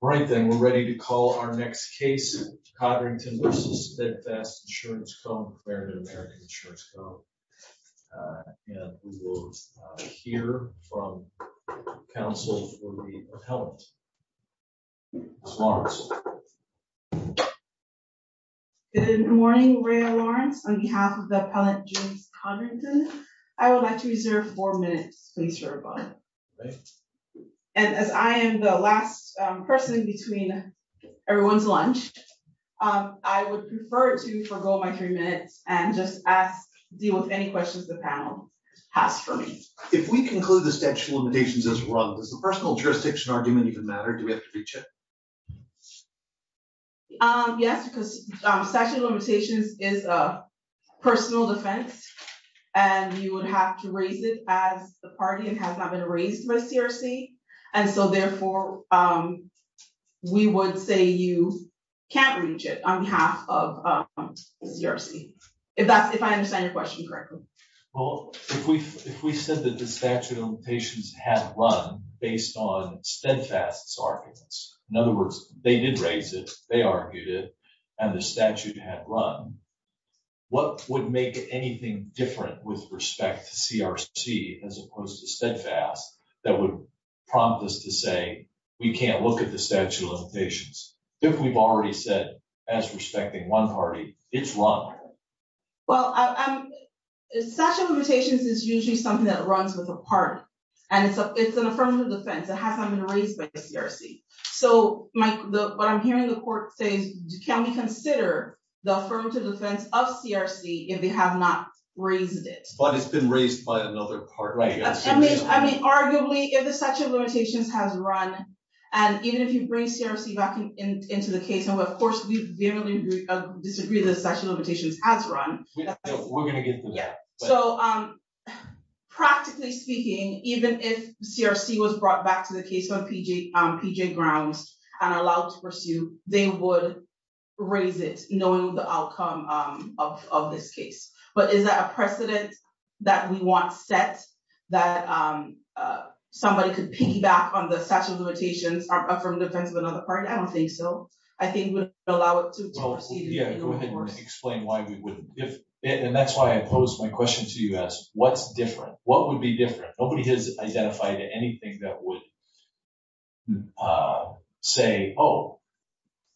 All right then, we're ready to call our next case, Codrington v. Steadfast Insurance Co. Clarendon American Insurance Co. And we will hear from counsel for the appellant. Ms. Lawrence. Good morning, Rayya Lawrence, on behalf of the appellant James Codrington. I would like to reserve four minutes, please, for a moment. Okay. And as I am the last person between everyone's lunch, I would prefer to forego my three minutes and just deal with any questions the panel has for me. If we conclude the statute of limitations as wrong, does the personal jurisdiction argument even matter? Do we have to reach it? Yes, because statute of limitations is a personal defense, and you would have to raise it as the party if it has not been raised by CRC. And so therefore, we would say you can't reach it on behalf of CRC, if I understand your question correctly. Well, if we said that the statute of limitations had run based on Steadfast's arguments, in other words, they did raise it, they argued it, and the statute had run, what would make anything different with respect to CRC as opposed to Steadfast that would prompt us to say, we can't look at the statute of limitations? If we've already said, as respecting one party, it's wrong. Well, statute of limitations is usually something that runs with a party, and it's an affirmative defense. It has not been raised by CRC. So what I'm hearing the court say is, can we consider the affirmative defense of CRC if they have not raised it? But it's been raised by another party. I mean, arguably, if the statute of limitations has run, and even if you bring CRC back into the case, and of course, we vehemently disagree that the statute of limitations has run. We're gonna get to that. So practically speaking, even if CRC was brought back to the case on PG grounds and allowed to pursue, they would raise it knowing the outcome of this case. But is that a precedent that we want set that somebody could piggyback on the statute of limitations or affirmative defense of another party? I don't think so. I think we'd allow it to proceed. Yeah, go ahead and explain why we wouldn't. And that's why I posed my question to you as, what's different? What would be different? Nobody has identified anything that would say, oh,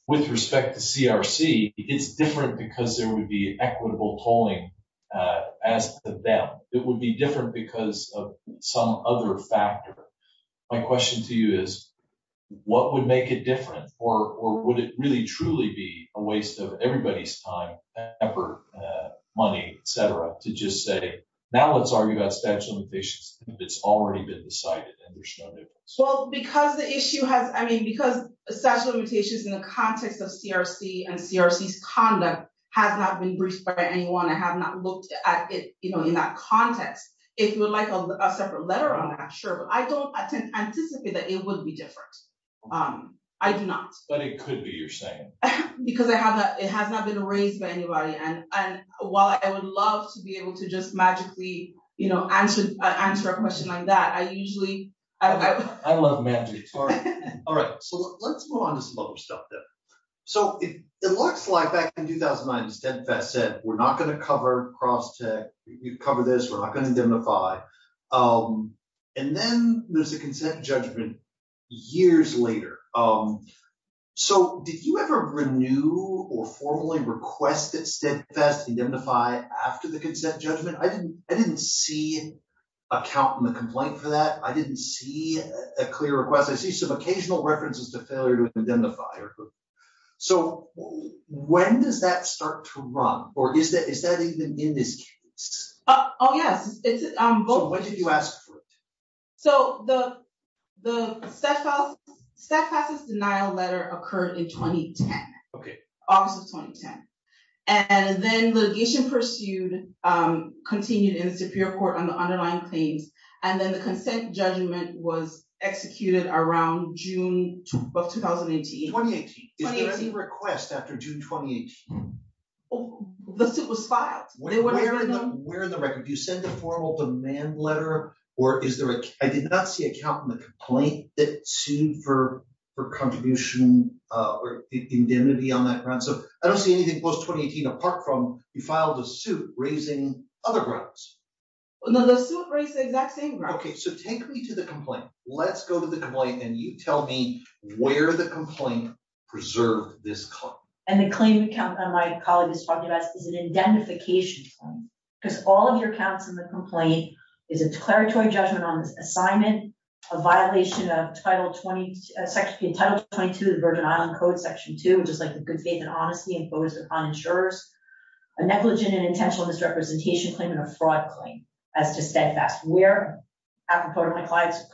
with respect to CRC, it's different because there would be equitable tolling as to them. It would be different because of some other factor. My question to you is, what would make it different? Or would it really truly be a waste of everybody's time, effort, money, et cetera, to just say, now let's argue about statute of limitations if it's already been decided and there's no difference? Well, because the issue has, I mean, because statute of limitations in the context of CRC and CRC's conduct has not been briefed by anyone. I have not looked at it in that context. If you would like a separate letter on that, sure. But I don't anticipate that it would be different. I do not. But it could be, you're saying. Because it has not been raised by anybody. And while I would love to be able to just magically answer a question like that, I usually- I love magic, sorry. All right, so let's move on to some other stuff then. So it looks like back in 2009, Steadfast said, we're not going to cover cross-tech. We've covered this, we're not going to identify. And then there's a consent judgment years later. So did you ever renew or formally request that Steadfast identify after the consent judgment? I didn't see a count in the complaint for that. I didn't see a clear request. I see some occasional references to failure to identify. So when does that start to run? Or is that even in this case? Oh yes, it's- So when did you ask for it? So the Steadfast's denial letter occurred in 2010. Okay. August of 2010. And then litigation pursued, continued in the Superior Court on the underlying claims. And then the consent judgment was executed around June of 2018. 2018. Is there any request after June, 2018? The suit was filed. They wouldn't have known. Where in the record, do you send a formal demand letter or is there a... I did not see a count in the complaint that sued for contribution or indemnity on that ground. So I don't see anything post 2018 apart from you filed a suit raising other grounds. No, the suit raised the exact same ground. Okay, so take me to the complaint. Let's go to the complaint and you tell me where the complaint preserved this claim. And the claim account that my colleague is talking about is an identification claim. Because all of your counts in the complaint is a declaratory judgment on this assignment, a violation of Title 22 of the Virgin Island Code, Section 2, which is like the good faith and honesty imposed upon insurers, a negligent and intentional misrepresentation claim and a fraud claim as to Steadfast. Where, apropos of my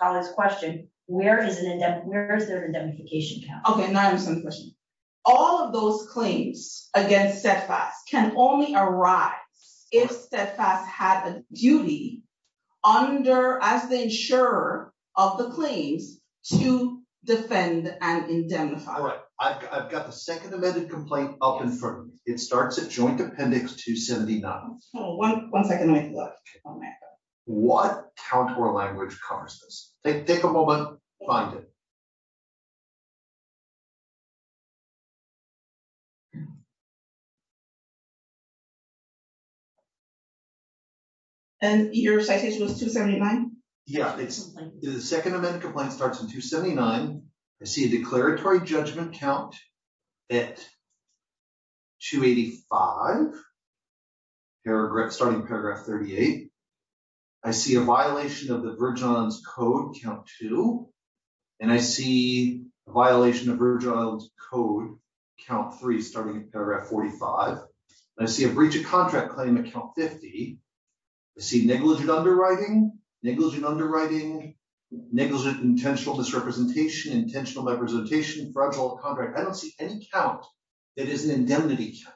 colleague's question, where is there an indemnification count? Okay, now I understand the question. All of those claims against Steadfast can only arise if Steadfast had a duty under, as the insurer of the claims, to defend and indemnify. All right, I've got the second amended complaint up in front of me. It starts at Joint Appendix 279. Hold on, one second, let me look on that. What contour language covers this? Take a moment, find it. And your citation was 279? Yeah, the second amended complaint starts in 279. I see a declaratory judgment count at 285, starting paragraph 38. I see a violation of the Vergeon's Code, count two. And I see a violation of Vergeon's Code, count three, starting at paragraph 45. I see a breach of contract claim at count 50. I see negligent underwriting, negligent underwriting, negligent intentional misrepresentation, intentional misrepresentation, fragile contract. I don't see any count that is an indemnity count.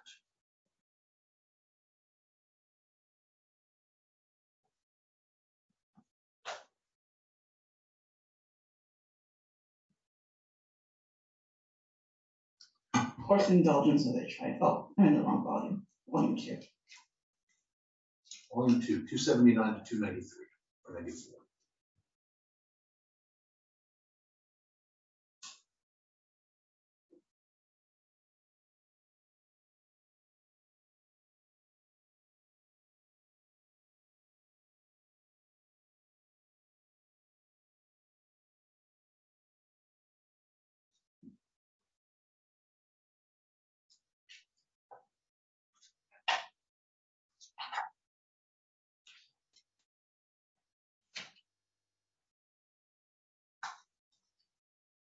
Thank you. Course and indulgence have a trade, oh, got the wrong volume. Volume two. Volume two, 279-293, for negative one.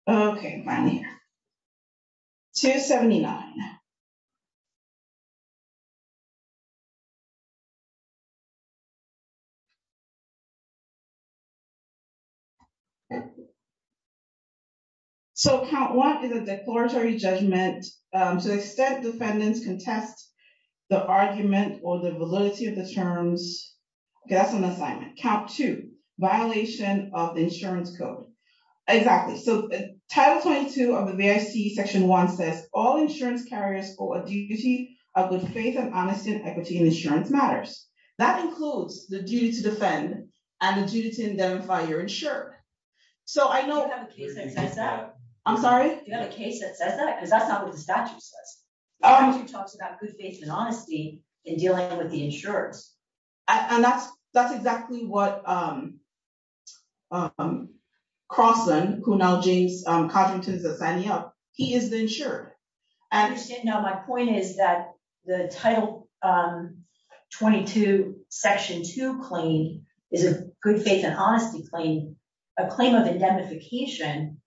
Okay. Okay, my dear, 279. Okay. So count one is a declaratory judgment to the extent defendants contest the argument or the validity of the terms. Okay, that's an assignment. Count two, violation of the insurance code. Exactly, so title 22 of the BIC section one says, all insurance carriers owe a duty of good faith and honesty in equity and insurance matters. That includes the duty to defend and the duty to indemnify your insurer. So I know- You don't have a case that says that. I'm sorry? You don't have a case that says that, because that's not what the statute says. The statute talks about good faith and honesty in dealing with the insurers. And that's exactly what Crosson, who now James Codrington is signing up, he is the insurer. I understand now my point is that the title 22 section two claim is a good faith and honesty claim. A claim of indemnification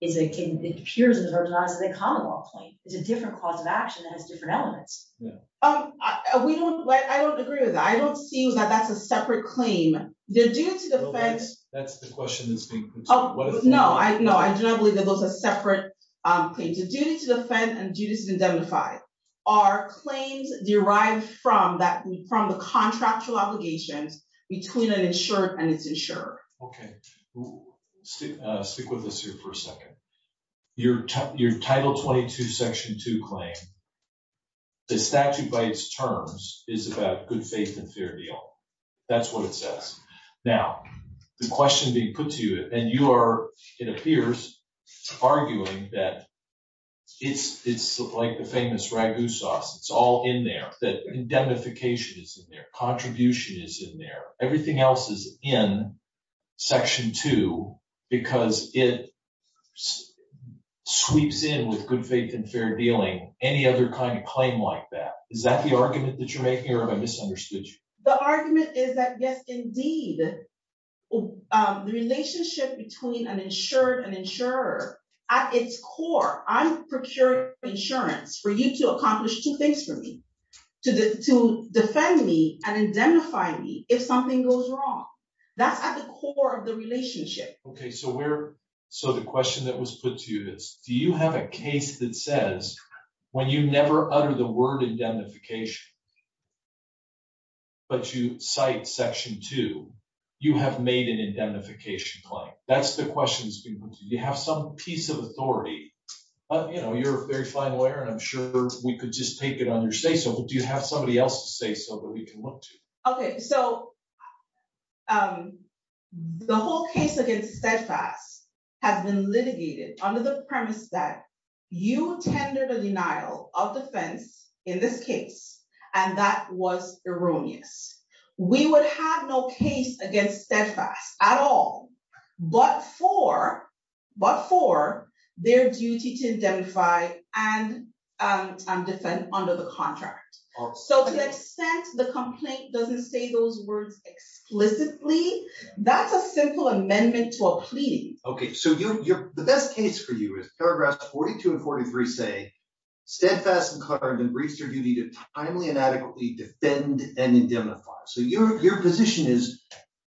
is a, it appears in the Virgin Isles as a common law claim. It's a different cause of action that has different elements. Yeah. We don't, I don't agree with that. I don't see that that's a separate claim. The duty to defend- That's the question that's being put to you. No, I do not believe that those are separate claims. The duty to defend and duty to indemnify are claims derived from the contractual obligations between an insurer and its insurer. Okay. Stick with us here for a second. Your title 22 section two claim, the statute by its terms is about good faith and fair deal. That's what it says. Now, the question being put to you, and you are, it appears, arguing that it's like the famous ragu sauce. It's all in there. That indemnification is in there. Contribution is in there. Everything else is in section two because it sweeps in with good faith and fair dealing. Any other kind of claim like that? Is that the argument that you're making or have I misunderstood you? The argument is that, yes, indeed. The relationship between an insured and insurer, at its core, I procured insurance for you to accomplish two things for me, to defend me and indemnify me if something goes wrong. That's at the core of the relationship. Okay, so the question that was put to you is, do you have a case that says when you never utter the word indemnification, but you cite section two, you have made an indemnification claim? That's the question that's being put to you. Do you have some piece of authority? You're a very fine lawyer, and I'm sure we could just take it on your say-so. Do you have somebody else's say-so that we can look to? Okay, so the whole case against Steadfast has been litigated under the premise that you tendered a denial of defense in this case and that was erroneous. We would have no case against Steadfast at all, but for their duty to indemnify and defend under the contract. So to the extent the complaint doesn't say those words explicitly, that's a simple amendment to a plea. Okay, so the best case for you is paragraphs 42 and 43 say, Steadfast and Clark have been briefed for your duty to timely and adequately defend and indemnify. So your position is,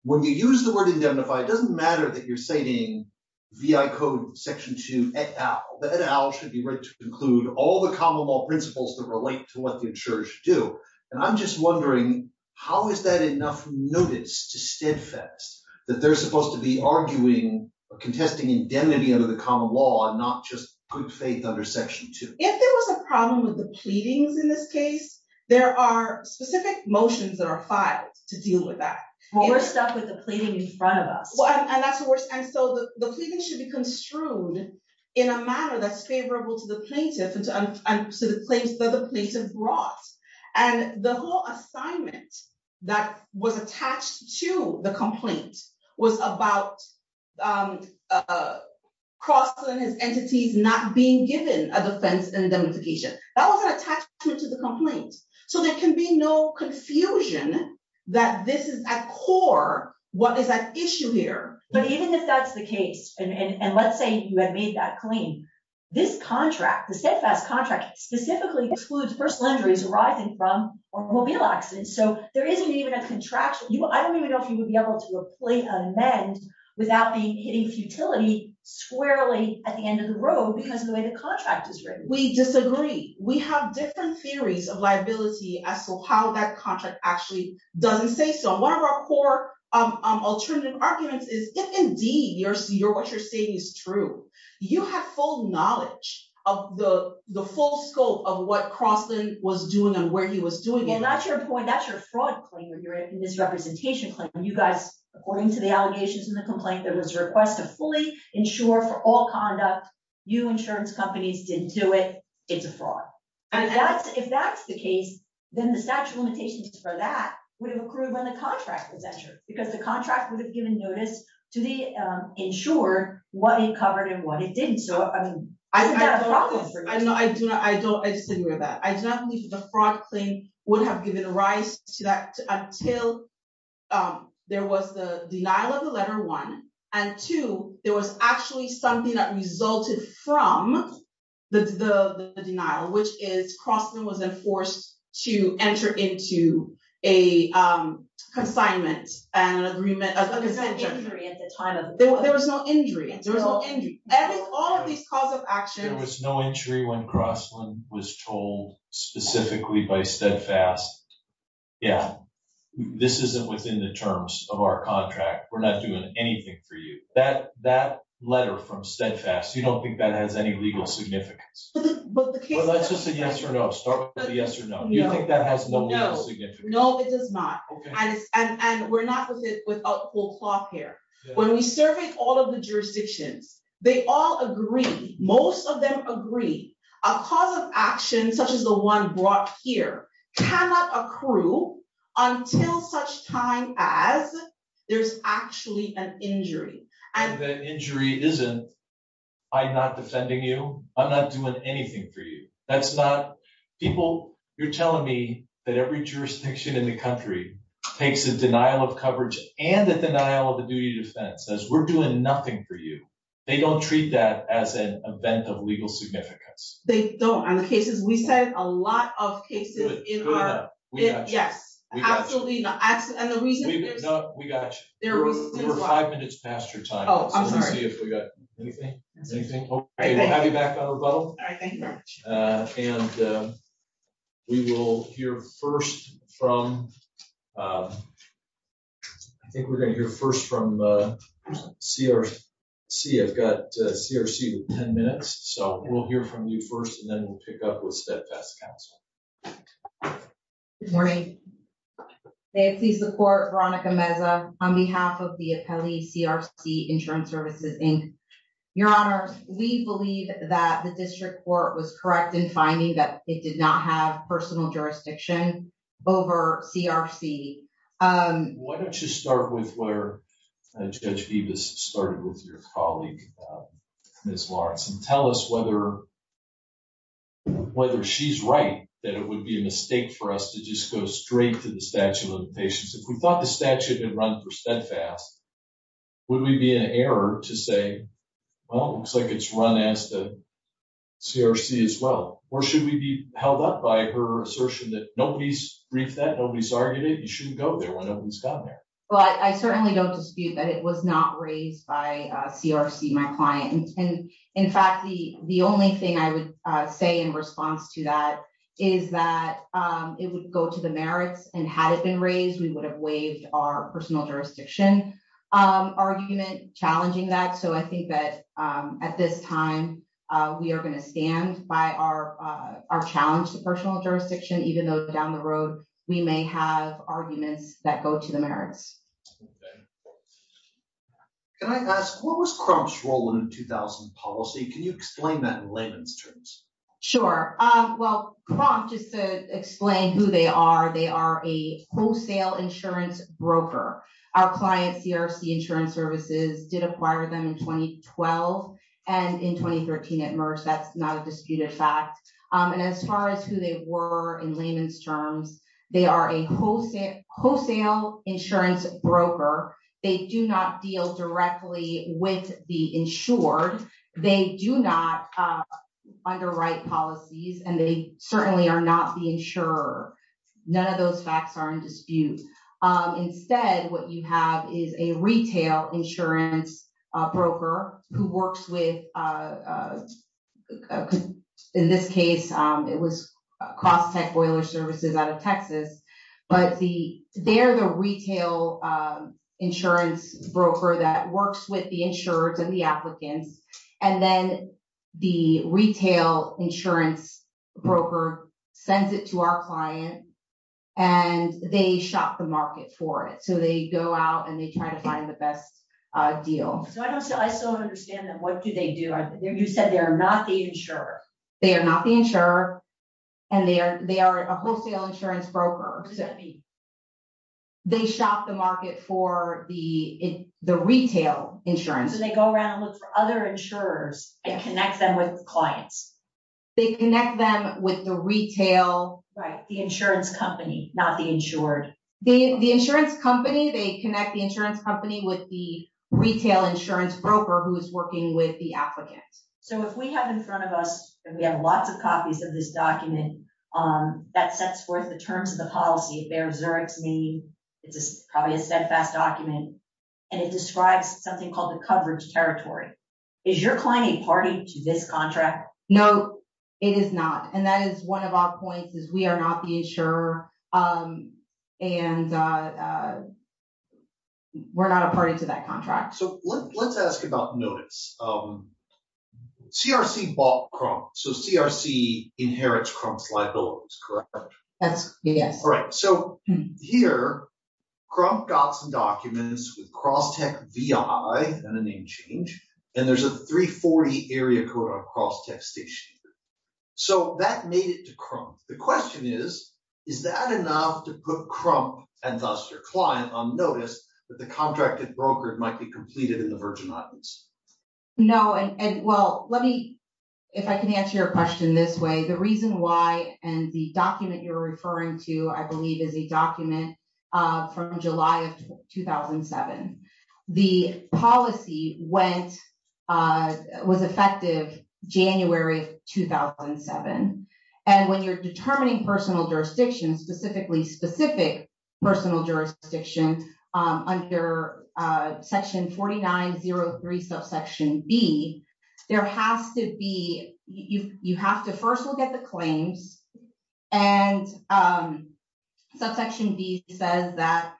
when you use the word indemnify, it doesn't matter that you're citing VI code section two et al. The et al should be read to include all the common law principles that relate to what the insurer should do. And I'm just wondering, how is that enough notice to Steadfast that they're supposed to be arguing, contesting indemnity under the common law and not just good faith under section two? If there was a problem with the pleadings in this case, there are specific motions that are filed to deal with that. Well, we're stuck with the pleading in front of us. Well, and that's the worst. And so the pleading should be construed in a manner that's favorable to the plaintiff and to the place that the plaintiff brought. And the whole assignment that was attached to the complaint was about Crosland and his entities not being given a defense indemnification. That was an attachment to the complaint. So there can be no confusion that this is at core, what is at issue here. But even if that's the case, and let's say you had made that claim, this contract, the Steadfast contract specifically excludes personal injuries arising from automobile accidents. So there isn't even a contraction. I don't even know if you would be able to amend without hitting futility squarely at the end of the road because of the way the contract is written. We disagree. We have different theories of liability as to how that contract actually doesn't say so. One of our core alternative arguments is if indeed what you're saying is true, you have full knowledge of the full scope of what Crosland was doing and where he was doing it. And that's your point, that's your fraud claim or your misrepresentation claim. You guys, according to the allegations in the complaint, there was a request to fully insure for all conduct. You insurance companies didn't do it. It's a fraud. And if that's the case, then the statute of limitations for that would have accrued when the contract was insured because the contract would have given notice to the insurer what it covered and what it didn't. So, I mean, isn't that a fraud claim for you? No, I disagree with that. I do not believe that the fraud claim would have given rise to that until there was the denial of the letter one. And two, there was actually something that resulted from the denial, which is Crosland was then forced to enter into a consignment and an agreement. There was no injury at the time of the letter. There was no injury. There was no injury. And with all of these calls of action. There was no injury when Crosland was told specifically by Steadfast. Yeah, this isn't within the terms of our contract. We're not doing anything for you. That letter from Steadfast, you don't think that has any legal significance? Well, let's just say yes or no. Start with the yes or no. Do you think that has no legal significance? No, it does not. And we're not with a full cloth here. When we surveyed all of the jurisdictions, they all agree, most of them agree, a cause of action such as the one brought here cannot accrue until such time as there's actually an injury. And that injury isn't, I'm not defending you. I'm not doing anything for you. That's not, people, you're telling me that every jurisdiction in the country takes a denial of coverage and a denial of a duty of defense, says we're doing nothing for you. They don't treat that as an event of legal significance. They don't. On the cases, we said a lot of cases in our- Good enough, we got you. Yes, absolutely, and the reason- We got you. You're five minutes past your time. Oh, I'm sorry. So let's see if we got anything, anything? Okay, we'll have you back on rebuttal. All right, thank you very much. And we will hear first from, I think we're gonna hear first from CRC. I've got CRC with 10 minutes. So we'll hear from you first and then we'll pick up with Steadfast Counsel. Good morning. May it please the court, Veronica Meza on behalf of the appellee CRC Insurance Services, Inc. Your honors, we believe that the district court was correct in finding that it did not have personal jurisdiction over CRC. Why don't you start with where Judge Beavis started with your colleague, Ms. Lawrence, and tell us whether she's right, that it would be a mistake for us to just go straight to the statute of limitations. If we thought the statute had been run for Steadfast, would we be in error to say, well, it looks like it's run as the CRC as well? Or should we be held up by her assertion that nobody's briefed that, nobody's argued it, you shouldn't go there when nobody's gone there? Well, I certainly don't dispute that it was not raised by CRC, my client. And in fact, the only thing I would say in response to that is that it would go to the merits, and had it been raised, we would have waived our personal jurisdiction argument, challenging that. So I think that at this time, we are gonna stand by our challenge to personal jurisdiction, even though down the road, we may have arguments that go to the merits. Okay. Can I ask, what was Crump's role in the 2000 policy? Can you explain that in layman's terms? Sure. Well, Crump, just to explain who they are, they are a wholesale insurance broker. Our clients, CRC Insurance Services, did acquire them in 2012 and in 2013 at MERS. That's not a disputed fact. And as far as who they were in layman's terms, they are a wholesale insurance broker. They do not deal directly with the insured. They do not underwrite policies, and they certainly are not the insurer. None of those facts are in dispute. Instead, what you have is a retail insurance broker who works with, in this case, it was CrossTech Boiler Services out of Texas, but they're the retail insurance broker that works with the insurers and the applicants. And then the retail insurance broker sends it to our client, and they shop the market for it. So they go out and they try to find the best deal. So I still don't understand them. What do they do? You said they are not the insurer. They are not the insurer, and they are a wholesale insurance broker. Who does that mean? They shop the market for the retail insurance. So they go around and look for other insurers and connect them with clients. They connect them with the retail. Right, the insurance company, not the insured. The insurance company, they connect the insurance company with the retail insurance broker who is working with the applicant. So if we have in front of us, and we have lots of copies of this document that sets forth the terms of the policy, it bears Zurich's name, it's probably a steadfast document, and it describes something called the coverage territory. Is your client a party to this contract? No, it is not. And that is one of our points is we are not the insurer, and we're not a party to that contract. So let's ask about notice. CRC bought Crump. So CRC inherits Crump's liabilities, correct? Yes. All right, so here, Crump got some documents with Crosstech VI, not a name change, and there's a 340 area Crosstech station. So that made it to Crump. The question is, is that enough to put Crump, and thus your client, on notice that the contracted broker might be completed in the Virgin Islands? No, and well, let me, if I can answer your question this way, the reason why, and the document you're referring to, I believe, is a document from July of 2007. The policy was effective January of 2007. And when you're determining personal jurisdiction, specifically specific personal jurisdiction under section 4903 subsection B, there has to be, you have to first look at the claims, and subsection B says that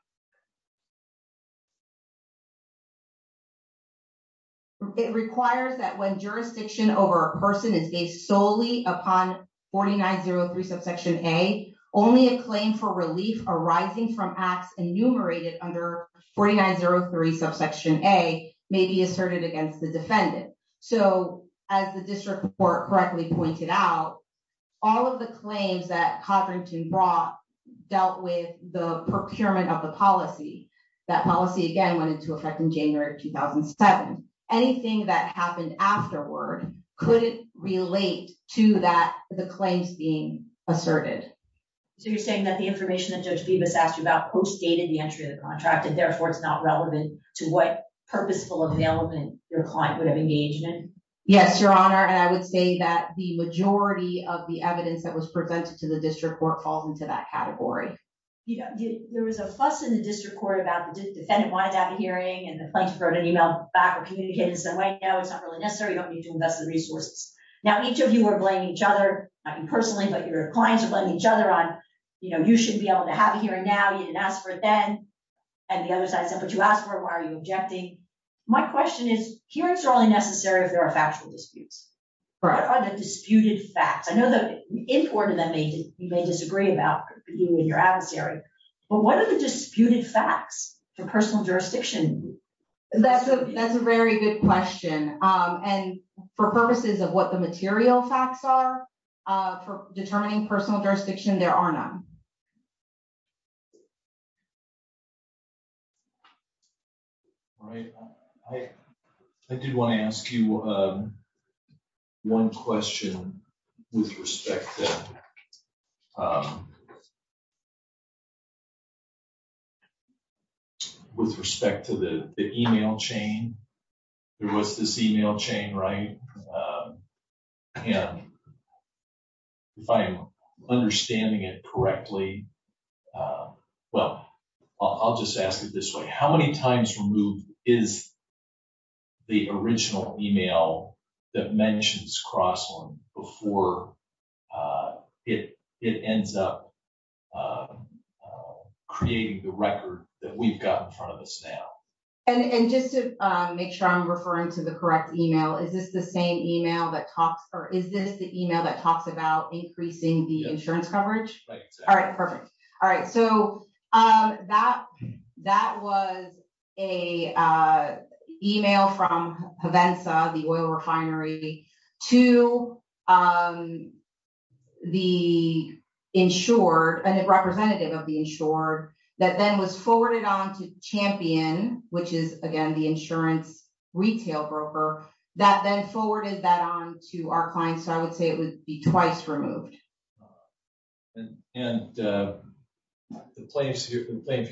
it requires that when jurisdiction over a person is based solely upon 4903 subsection A, only a claim for relief arising from acts enumerated under 4903 subsection A may be asserted against the defendant. So as the district court correctly pointed out, all of the claims that Codrington brought dealt with the procurement of the policy. That policy, again, went into effect in January of 2007. Anything that happened afterward couldn't relate to that, the claims being asserted. So you're saying that the information that Judge Bibas asked you about co-stated the entry of the contract, and therefore it's not relevant to what purposeful availment your client would have engaged in? Yes, Your Honor, and I would say that the majority of the evidence that was presented to the district court falls into that category. There was a fuss in the district court about the defendant wanted to have a hearing, and the plaintiff wrote an email back or communicated and said, wait, no, it's not really necessary. You don't need to invest the resources. Now, each of you are blaming each other, not you personally, but your clients are blaming each other on, you should be able to have a hearing now, you didn't ask for it then. And the other side said, but you asked for it, why are you objecting? My question is, hearings are only necessary if there are factual disputes. What are the disputed facts? I know that an importer that may disagree about you and your adversary, but what are the disputed facts for personal jurisdiction? That's a very good question. And for purposes of what the material facts are for determining personal jurisdiction, there are none. I did wanna ask you one question with respect to the email chain. There was this email chain, right? And if I'm understanding it correctly, well, I'll just ask it this way. How many times removed is the original email that mentions Crossland before it ends up creating the record that we've got in front of us now? And just to make sure I'm referring to the correct email, is this the same email that talks, or is this the email that talks about increasing the insurance coverage? All right, perfect. All right, so that was a email from Provenza, the oil refinery to the insured and representative of the insured that then was forwarded on to Champion, which is, again, the insurance retail broker that then forwarded that on to our client. So I would say it would be twice removed. And the plaintiff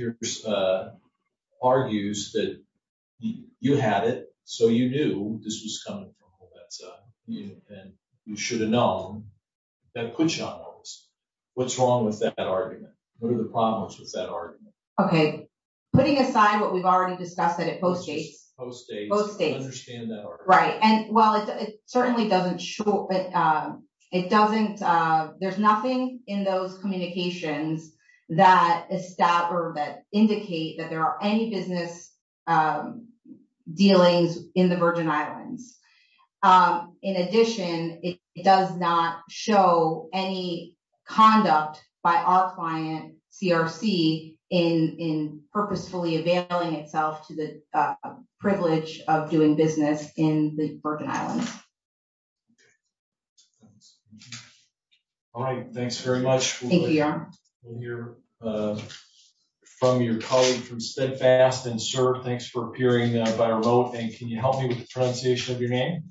argues that you had it, so you knew this was coming from Provenza, and you should have known, then put you on notice. What's wrong with that argument? What are the problems with that argument? Okay, putting aside what we've already discussed that it post-dates. Post-dates. Post-dates. I understand that argument. Right, and well, it certainly doesn't show, but it doesn't, there's nothing in those communications that establish or that indicate that there are any business dealings in the Virgin Islands. In addition, it does not show any conduct by our client, CRC, in purposefully availing itself to the privilege of doing business in the Virgin Islands. All right, thanks very much. Thank you, Your Honor. We'll hear from your colleague from Spedfast, and sir, thanks for appearing by rote, and can you help me with the pronunciation of your name?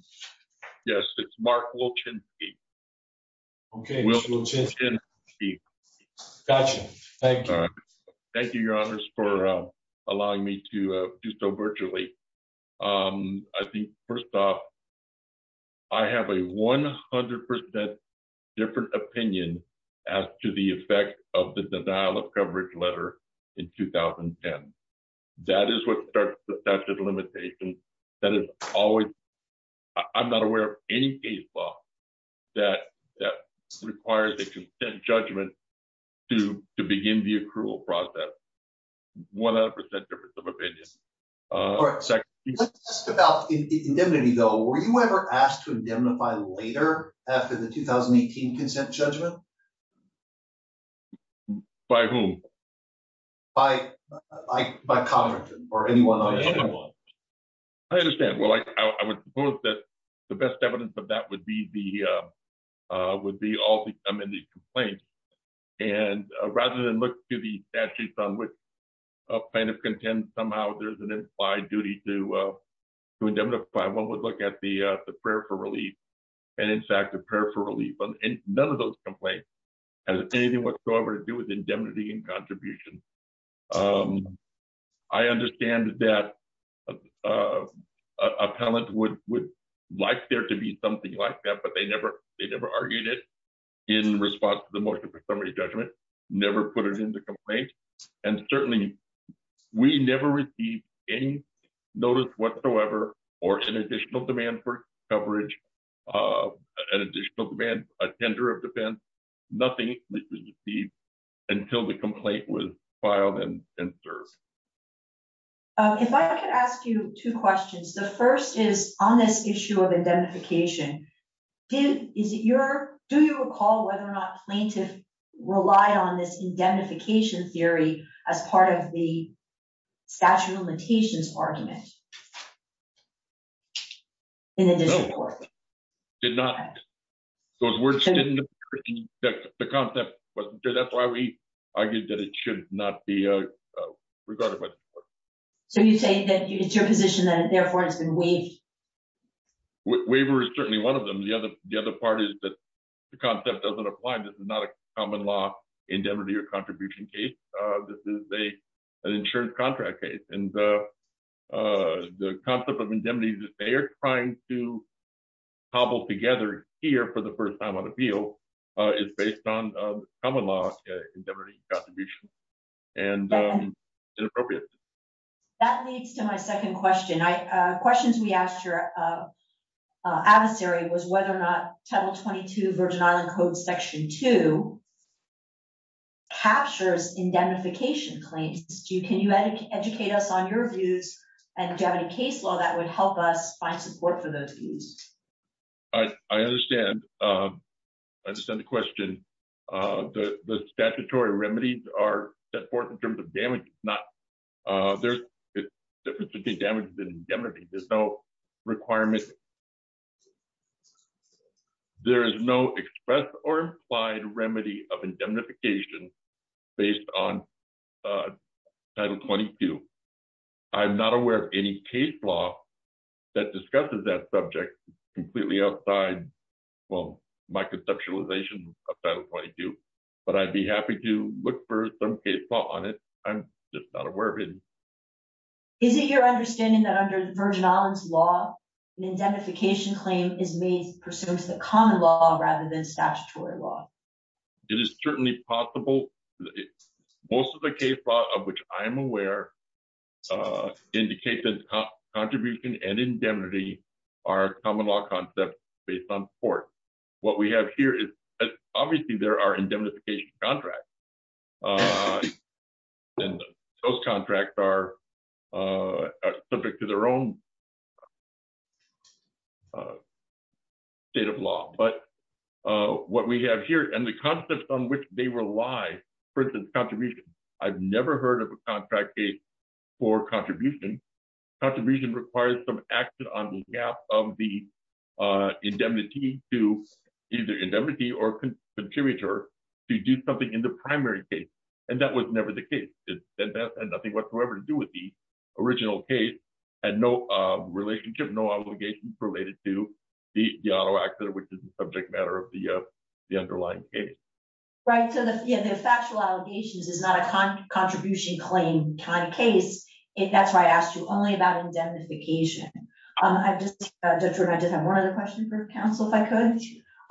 Yes, it's Mark Wilchenski. Okay, Wilchenski. Wilchenski. Gotcha, thank you. Thank you, Your Honors, for allowing me to do so virtually. I think, first off, I have a 100% different opinion as to the effect of the denial of coverage letter in 2010. That is what starts the statute of limitations that is always, I'm not aware of any case law that requires a consent judgment to begin the accrual process. 100% difference of opinion. All right, let's talk about indemnity, though. Were you ever asked to indemnify later after the 2018 consent judgment? By whom? By Congress, or anyone on the panel. I understand. Well, I would suppose that the best evidence of that would be all the come in these complaints, and rather than look to the statutes on which plaintiff contends somehow there's an implied duty to indemnify, one would look at the prayer for relief, and in fact, the prayer for relief. None of those complaints has anything whatsoever to do with indemnity and contribution. I understand that a palant would like there to be something like that, but they never argued it in response to the motion for summary judgment. Never put it in the complaint. And certainly, we never received any notice whatsoever or an additional demand for coverage, an additional demand, a tender of defense. Nothing was received until the complaint was filed and served. If I could ask you two questions. The first is on this issue of indemnification, do you recall whether or not plaintiff relied on this indemnification theory as part of the statute of limitations argument in the district court? Did not. Those words didn't, the concept wasn't there. That's why we argued that it should not be regarded by the court. So you say that it's your position and therefore it's been waived. Waiver is certainly one of them. The other part is that the concept doesn't apply. This is not a common law indemnity or contribution case. This is an insurance contract case. And the concept of indemnity that they are trying to hobble together here for the first time on appeal is based on common law indemnity contribution and inappropriate. That leads to my second question. Questions we asked your adversary was whether or not title 22 Virgin Island code section two captures indemnification claims. Can you educate us on your views and do you have any case law that would help us find support for those views? I understand the question. The statutory remedies are set forth in terms of damage, not there's a difference between damage and indemnity. There's no requirement. There is no express or implied remedy of indemnification based on title 22. I'm not aware of any case law that discusses that subject completely outside, well, my conceptualization of title 22, but I'd be happy to look for some case law on it. I'm just not aware of it. Is it your understanding that under Virgin Island's law, an indemnification claim is made pursuant to the common law rather than statutory law? It is certainly possible. Most of the case law of which I'm aware indicate that contribution and indemnity are common law concepts based on support. What we have here is obviously there are indemnification contracts and those contracts are subject to their own state of law, but what we have here and the concepts on which they rely, for instance, contribution. I've never heard of a contract case for contribution. Contribution requires some action on behalf of the indemnity to either indemnity or contributor to do something in the primary case. And that was never the case. That had nothing whatsoever to do with the original case and no relationship, no obligations related to the auto accident, which is a subject matter of the underlying case. Right, so the factual allegations is not a contribution claim kind of case. That's why I asked you only about indemnification. I just, Judge Rood, I just have one other question for the council, if I could.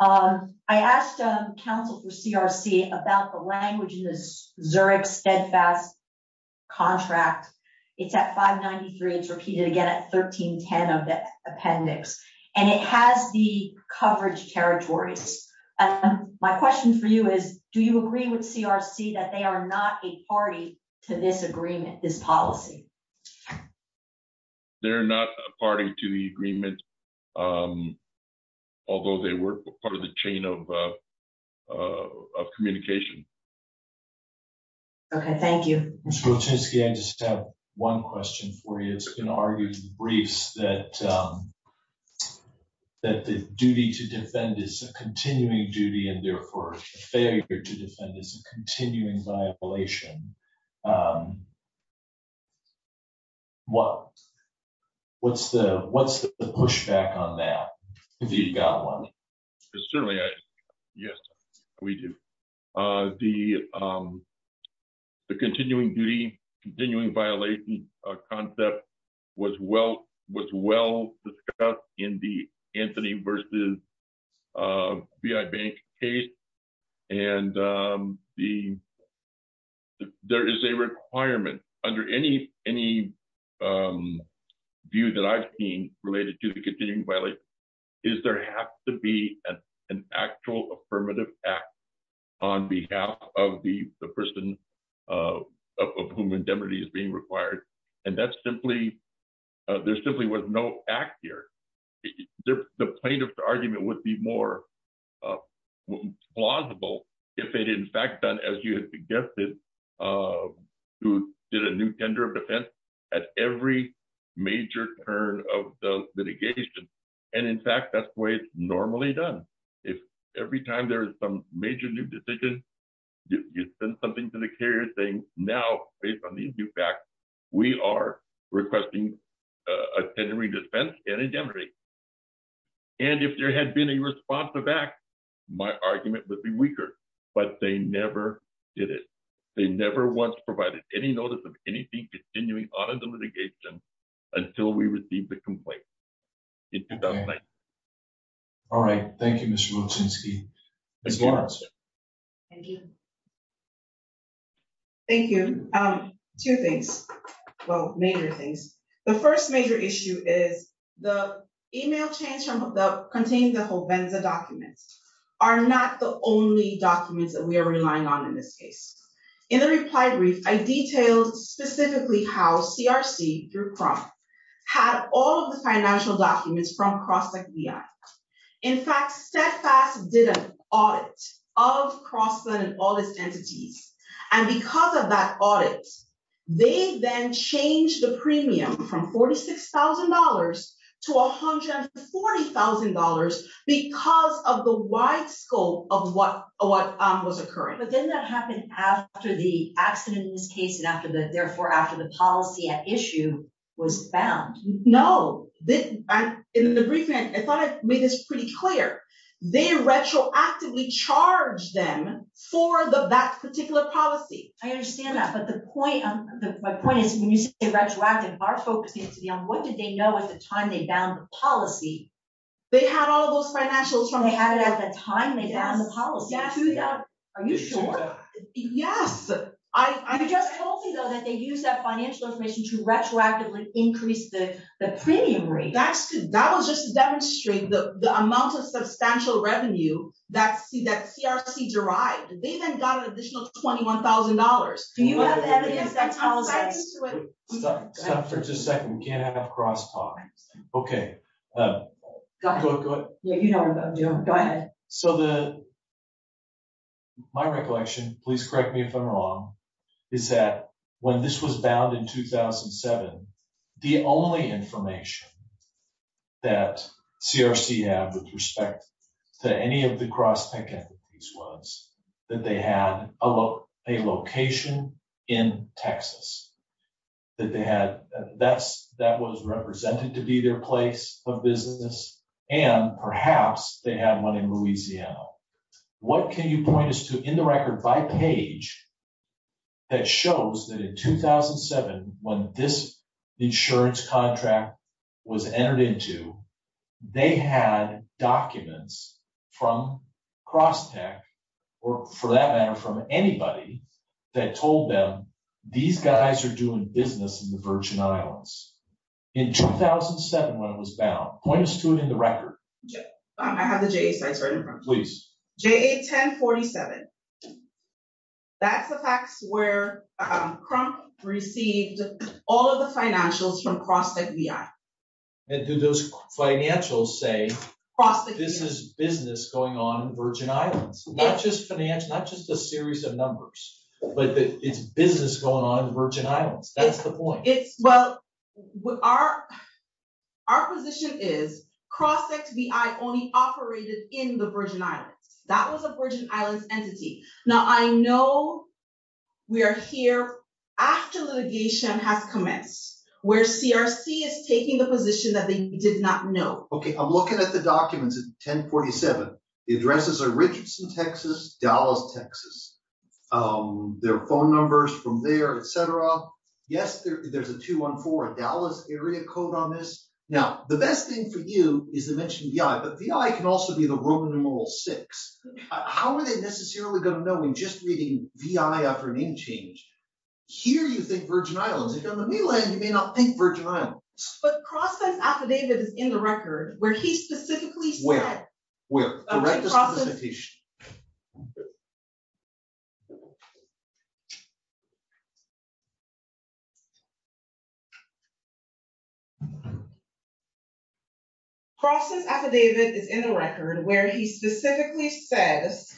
I asked counsel for CRC about the language in this Zurich steadfast contract. It's at 593, it's repeated again at 1310 of the appendix. And it has the coverage territories. My question for you is, do you agree with CRC that they are not a party to this agreement, this policy? They're not a party to the agreement, although they were part of the chain of communication. Okay, thank you. Mr. Wojcicki, I just have one question for you. It's been argued in briefs that the duty to defend is a continuing duty and therefore failure to defend is a continuing violation. What's the pushback on that, if you've got one? It's certainly, yes, we do. The continuing duty, continuing violation concept was well discussed in the Anthony versus BI Bank case. And there is a requirement under any contract or any view that I've seen related to the continuing violation, is there has to be an actual affirmative act on behalf of the person of whom indemnity is being required. And that's simply, there simply was no act here. The plaintiff's argument would be more plausible if it in fact done, as you had suggested, who did a new tender of defense at every major turn of the litigation. And in fact, that's the way it's normally done. If every time there is some major new decision, you send something to the carrier saying, now based on these new facts, we are requesting a tendering defense and indemnity. And if there had been a response to that, my argument would be weaker, but they never did it. They never once provided any notice of anything continuing on in the litigation until we received the complaint in 2009. All right, thank you, Mr. Motensky. Ms. Lawrence. Thank you. Thank you. Two things, well, major things. The first major issue is the email change from the containing the HOVENZA documents are not the only documents that we are relying on in this case. In the reply brief, I detailed specifically how CRC through CROM had all of the financial documents from Crosstek BI. In fact, Steadfast did an audit of Crosstek and all its entities. And because of that audit, they then changed the premium from $46,000 to $140,000 because of the wide scope of what was occurring. But didn't that happen after the accident in this case and therefore after the policy at issue was bound? No, in the brief, I thought I made this pretty clear. They retroactively charged them for that particular policy. I understand that, but my point is when you say retroactive, our focus needs to be on what did they know at the time they bound the policy? They had all of those financials from- They had it at the time they bound the policy. Are you sure? Yes. You just told me, though, that they used that financial information to retroactively increase the premium rate. That was just to demonstrate the amount of substantial revenue that CRC derived. They then got an additional $21,000. Do you have evidence that ties into it? Stop for just a second, we can't have cross-talk. Okay. Go ahead. Yeah, you know what I'm doing. Go ahead. So my recollection, please correct me if I'm wrong, is that when this was bound in 2007, the only information that CRC had with respect to any of the cross-tech entities was that they had a location in Texas. That was represented to be their place of business. And perhaps they had one in Louisiana. What can you point us to in the record by page that shows that in 2007, when this insurance contract was entered into, they had documents from cross-tech, or for that matter, from anybody, that told them these guys are doing business in the Virgin Islands. In 2007, when it was bound, point us to it in the record. I have the JA sites right in front of me. Please. JA 1047. That's the fax where CRUNK received all of the financials from cross-tech VI. And do those financials say this is business going on in the Virgin Islands? Not just a series of numbers, but it's business going on in the Virgin Islands. That's the point. Well, our position is cross-tech VI only operated in the Virgin Islands. That was a Virgin Islands entity. Now, I know we are here after litigation has commenced, where CRC is taking the position that they did not know. Okay, I'm looking at the documents at 1047. The addresses are Richardson, Texas, Dallas, Texas. Their phone numbers from there, et cetera. Yes, there's a 214, a Dallas area code on this. Now, the best thing for you is to mention VI, but VI can also be the Roman numeral six. How are they necessarily gonna know when just reading VI after name change? Here, you think Virgin Islands. If you're on the mainland, you may not think Virgin Islands. But cross-tech's affidavit is in the record where he specifically said- Where? The right to solicitation. Cross-tech's affidavit is in the record where he specifically says,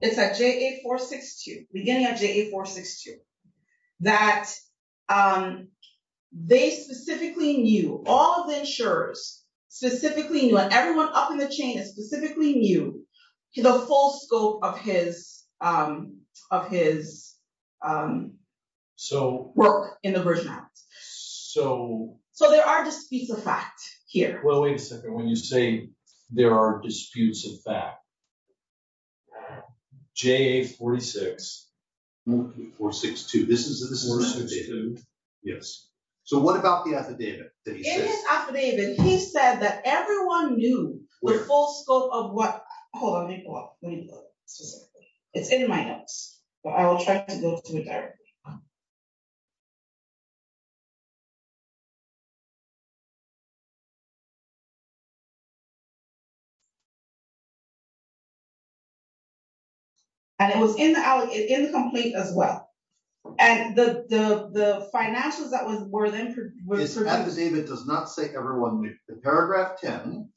it's at JA462, beginning of JA462, that they specifically knew, all of the insurers specifically knew, and everyone up in the chain specifically knew the full scope of his work in the Virgin Islands. So there are disputes of fact here. Well, wait a second. When you say there are disputes of fact, JA462, this is the 462? Yes. So what about the affidavit that he says? It is affidavit. He said that everyone knew the full scope of what, hold on, let me pull up, let me pull up specifically. It's in my notes. But I will try to go through it directly. And it was in the complaint as well. And the financials that were then- The affidavit does not say everyone knew. The paragraph 10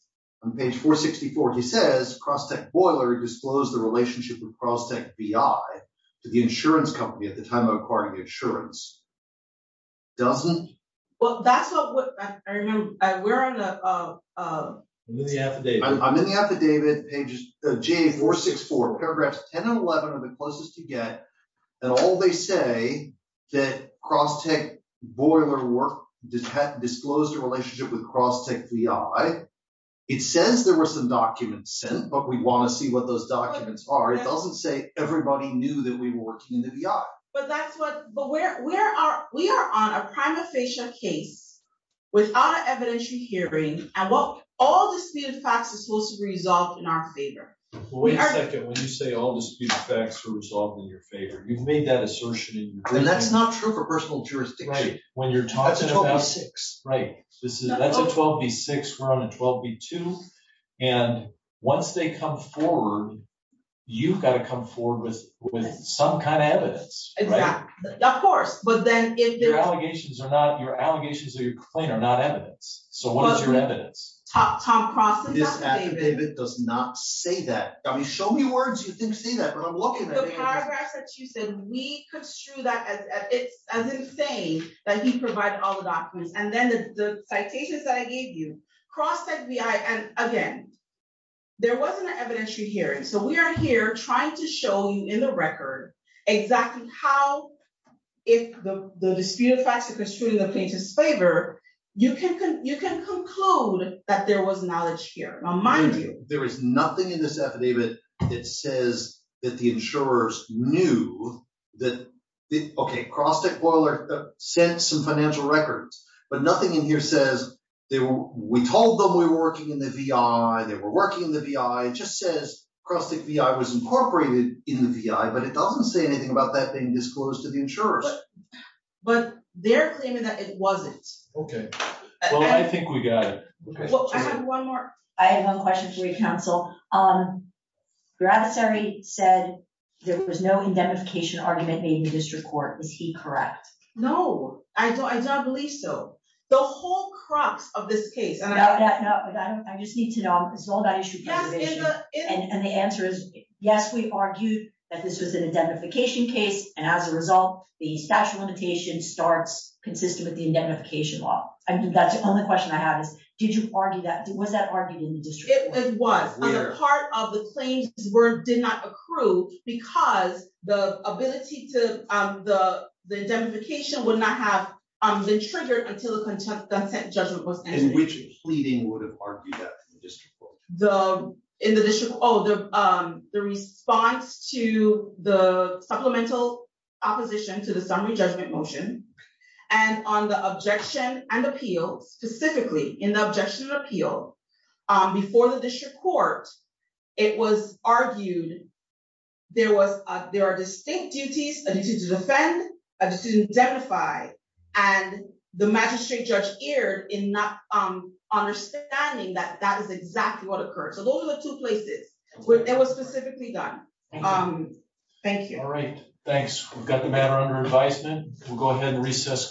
on page 464, he says, Cross-tech Boiler disclosed the relationship with Cross-tech BI to the insurance company at the time of acquiring the insurance. Doesn't? Well, that's not what, I remember, we're on the- I'm in the affidavit. I'm in the affidavit, page, JA464, paragraphs 10 and 11 are the closest to get, and all they say that Cross-tech Boiler worked, disclosed a relationship with Cross-tech BI. It says there were some documents sent, but we wanna see what those documents are. It doesn't say everybody knew that we were working in the BI. But that's what, but we are on a prima facie case without an evidentiary hearing, and all disputed facts are supposed to be resolved in our favor. Well, wait a second. When you say all disputed facts are resolved in your favor, you've made that assertion in your complaint. And that's not true for personal jurisdiction. When you're talking about- That's a 12B6. Right, that's a 12B6, we're on a 12B2. And once they come forward, you've gotta come forward with some kind of evidence. Exactly, of course. But then if- Your allegations are not, your allegations of your complaint are not evidence. So what is your evidence? Tom Cross's affidavit- This affidavit does not say that. I mean, show me words you think say that, but I'm looking at it. The paragraphs that you said, we construe that as if saying that he provided all the documents. And then the citations that I gave you, Cross said, and again, there wasn't an evidentiary hearing. So we are here trying to show you in the record exactly how, if the disputed facts are construed in the plaintiff's favor, you can conclude that there was knowledge here. Now, mind you- There is nothing in this affidavit that says that the insurers knew that, okay, Cross Tech Boiler sent some financial records, but nothing in here says, we told them we were working in the VI, they were working in the VI. It just says Cross Tech VI was incorporated in the VI, but it doesn't say anything about that being disclosed to the insurers. But they're claiming that it wasn't. Okay, well, I think we got it. Well, I have one more. I have one question for you, counsel. Gratisari said there was no indemnification argument made in the district court. Is he correct? No, I don't believe so. The whole crux of this case- No, I just need to know, it's all about issue preservation. And the answer is, yes, we argued that this was an indemnification case. And as a result, the statute of limitations starts consistent with the indemnification law. I mean, that's the only question I have is, was that argued in the district court? It was. And a part of the claims did not accrue because the indemnification would not have been triggered until the consent judgment was entered. In which pleading would have argued that in the district court? In the district, oh, the response to the supplemental opposition to the summary judgment motion, and on the objection and appeal, specifically in the objection and appeal, before the district court, it was argued there are distinct duties, a duty to defend, a duty to indemnify. And the magistrate judge erred in not understanding that that is exactly what occurred. So those are the two places where it was specifically done. Thank you. All right, thanks. We've got the matter under advisement. We'll go ahead and recess court.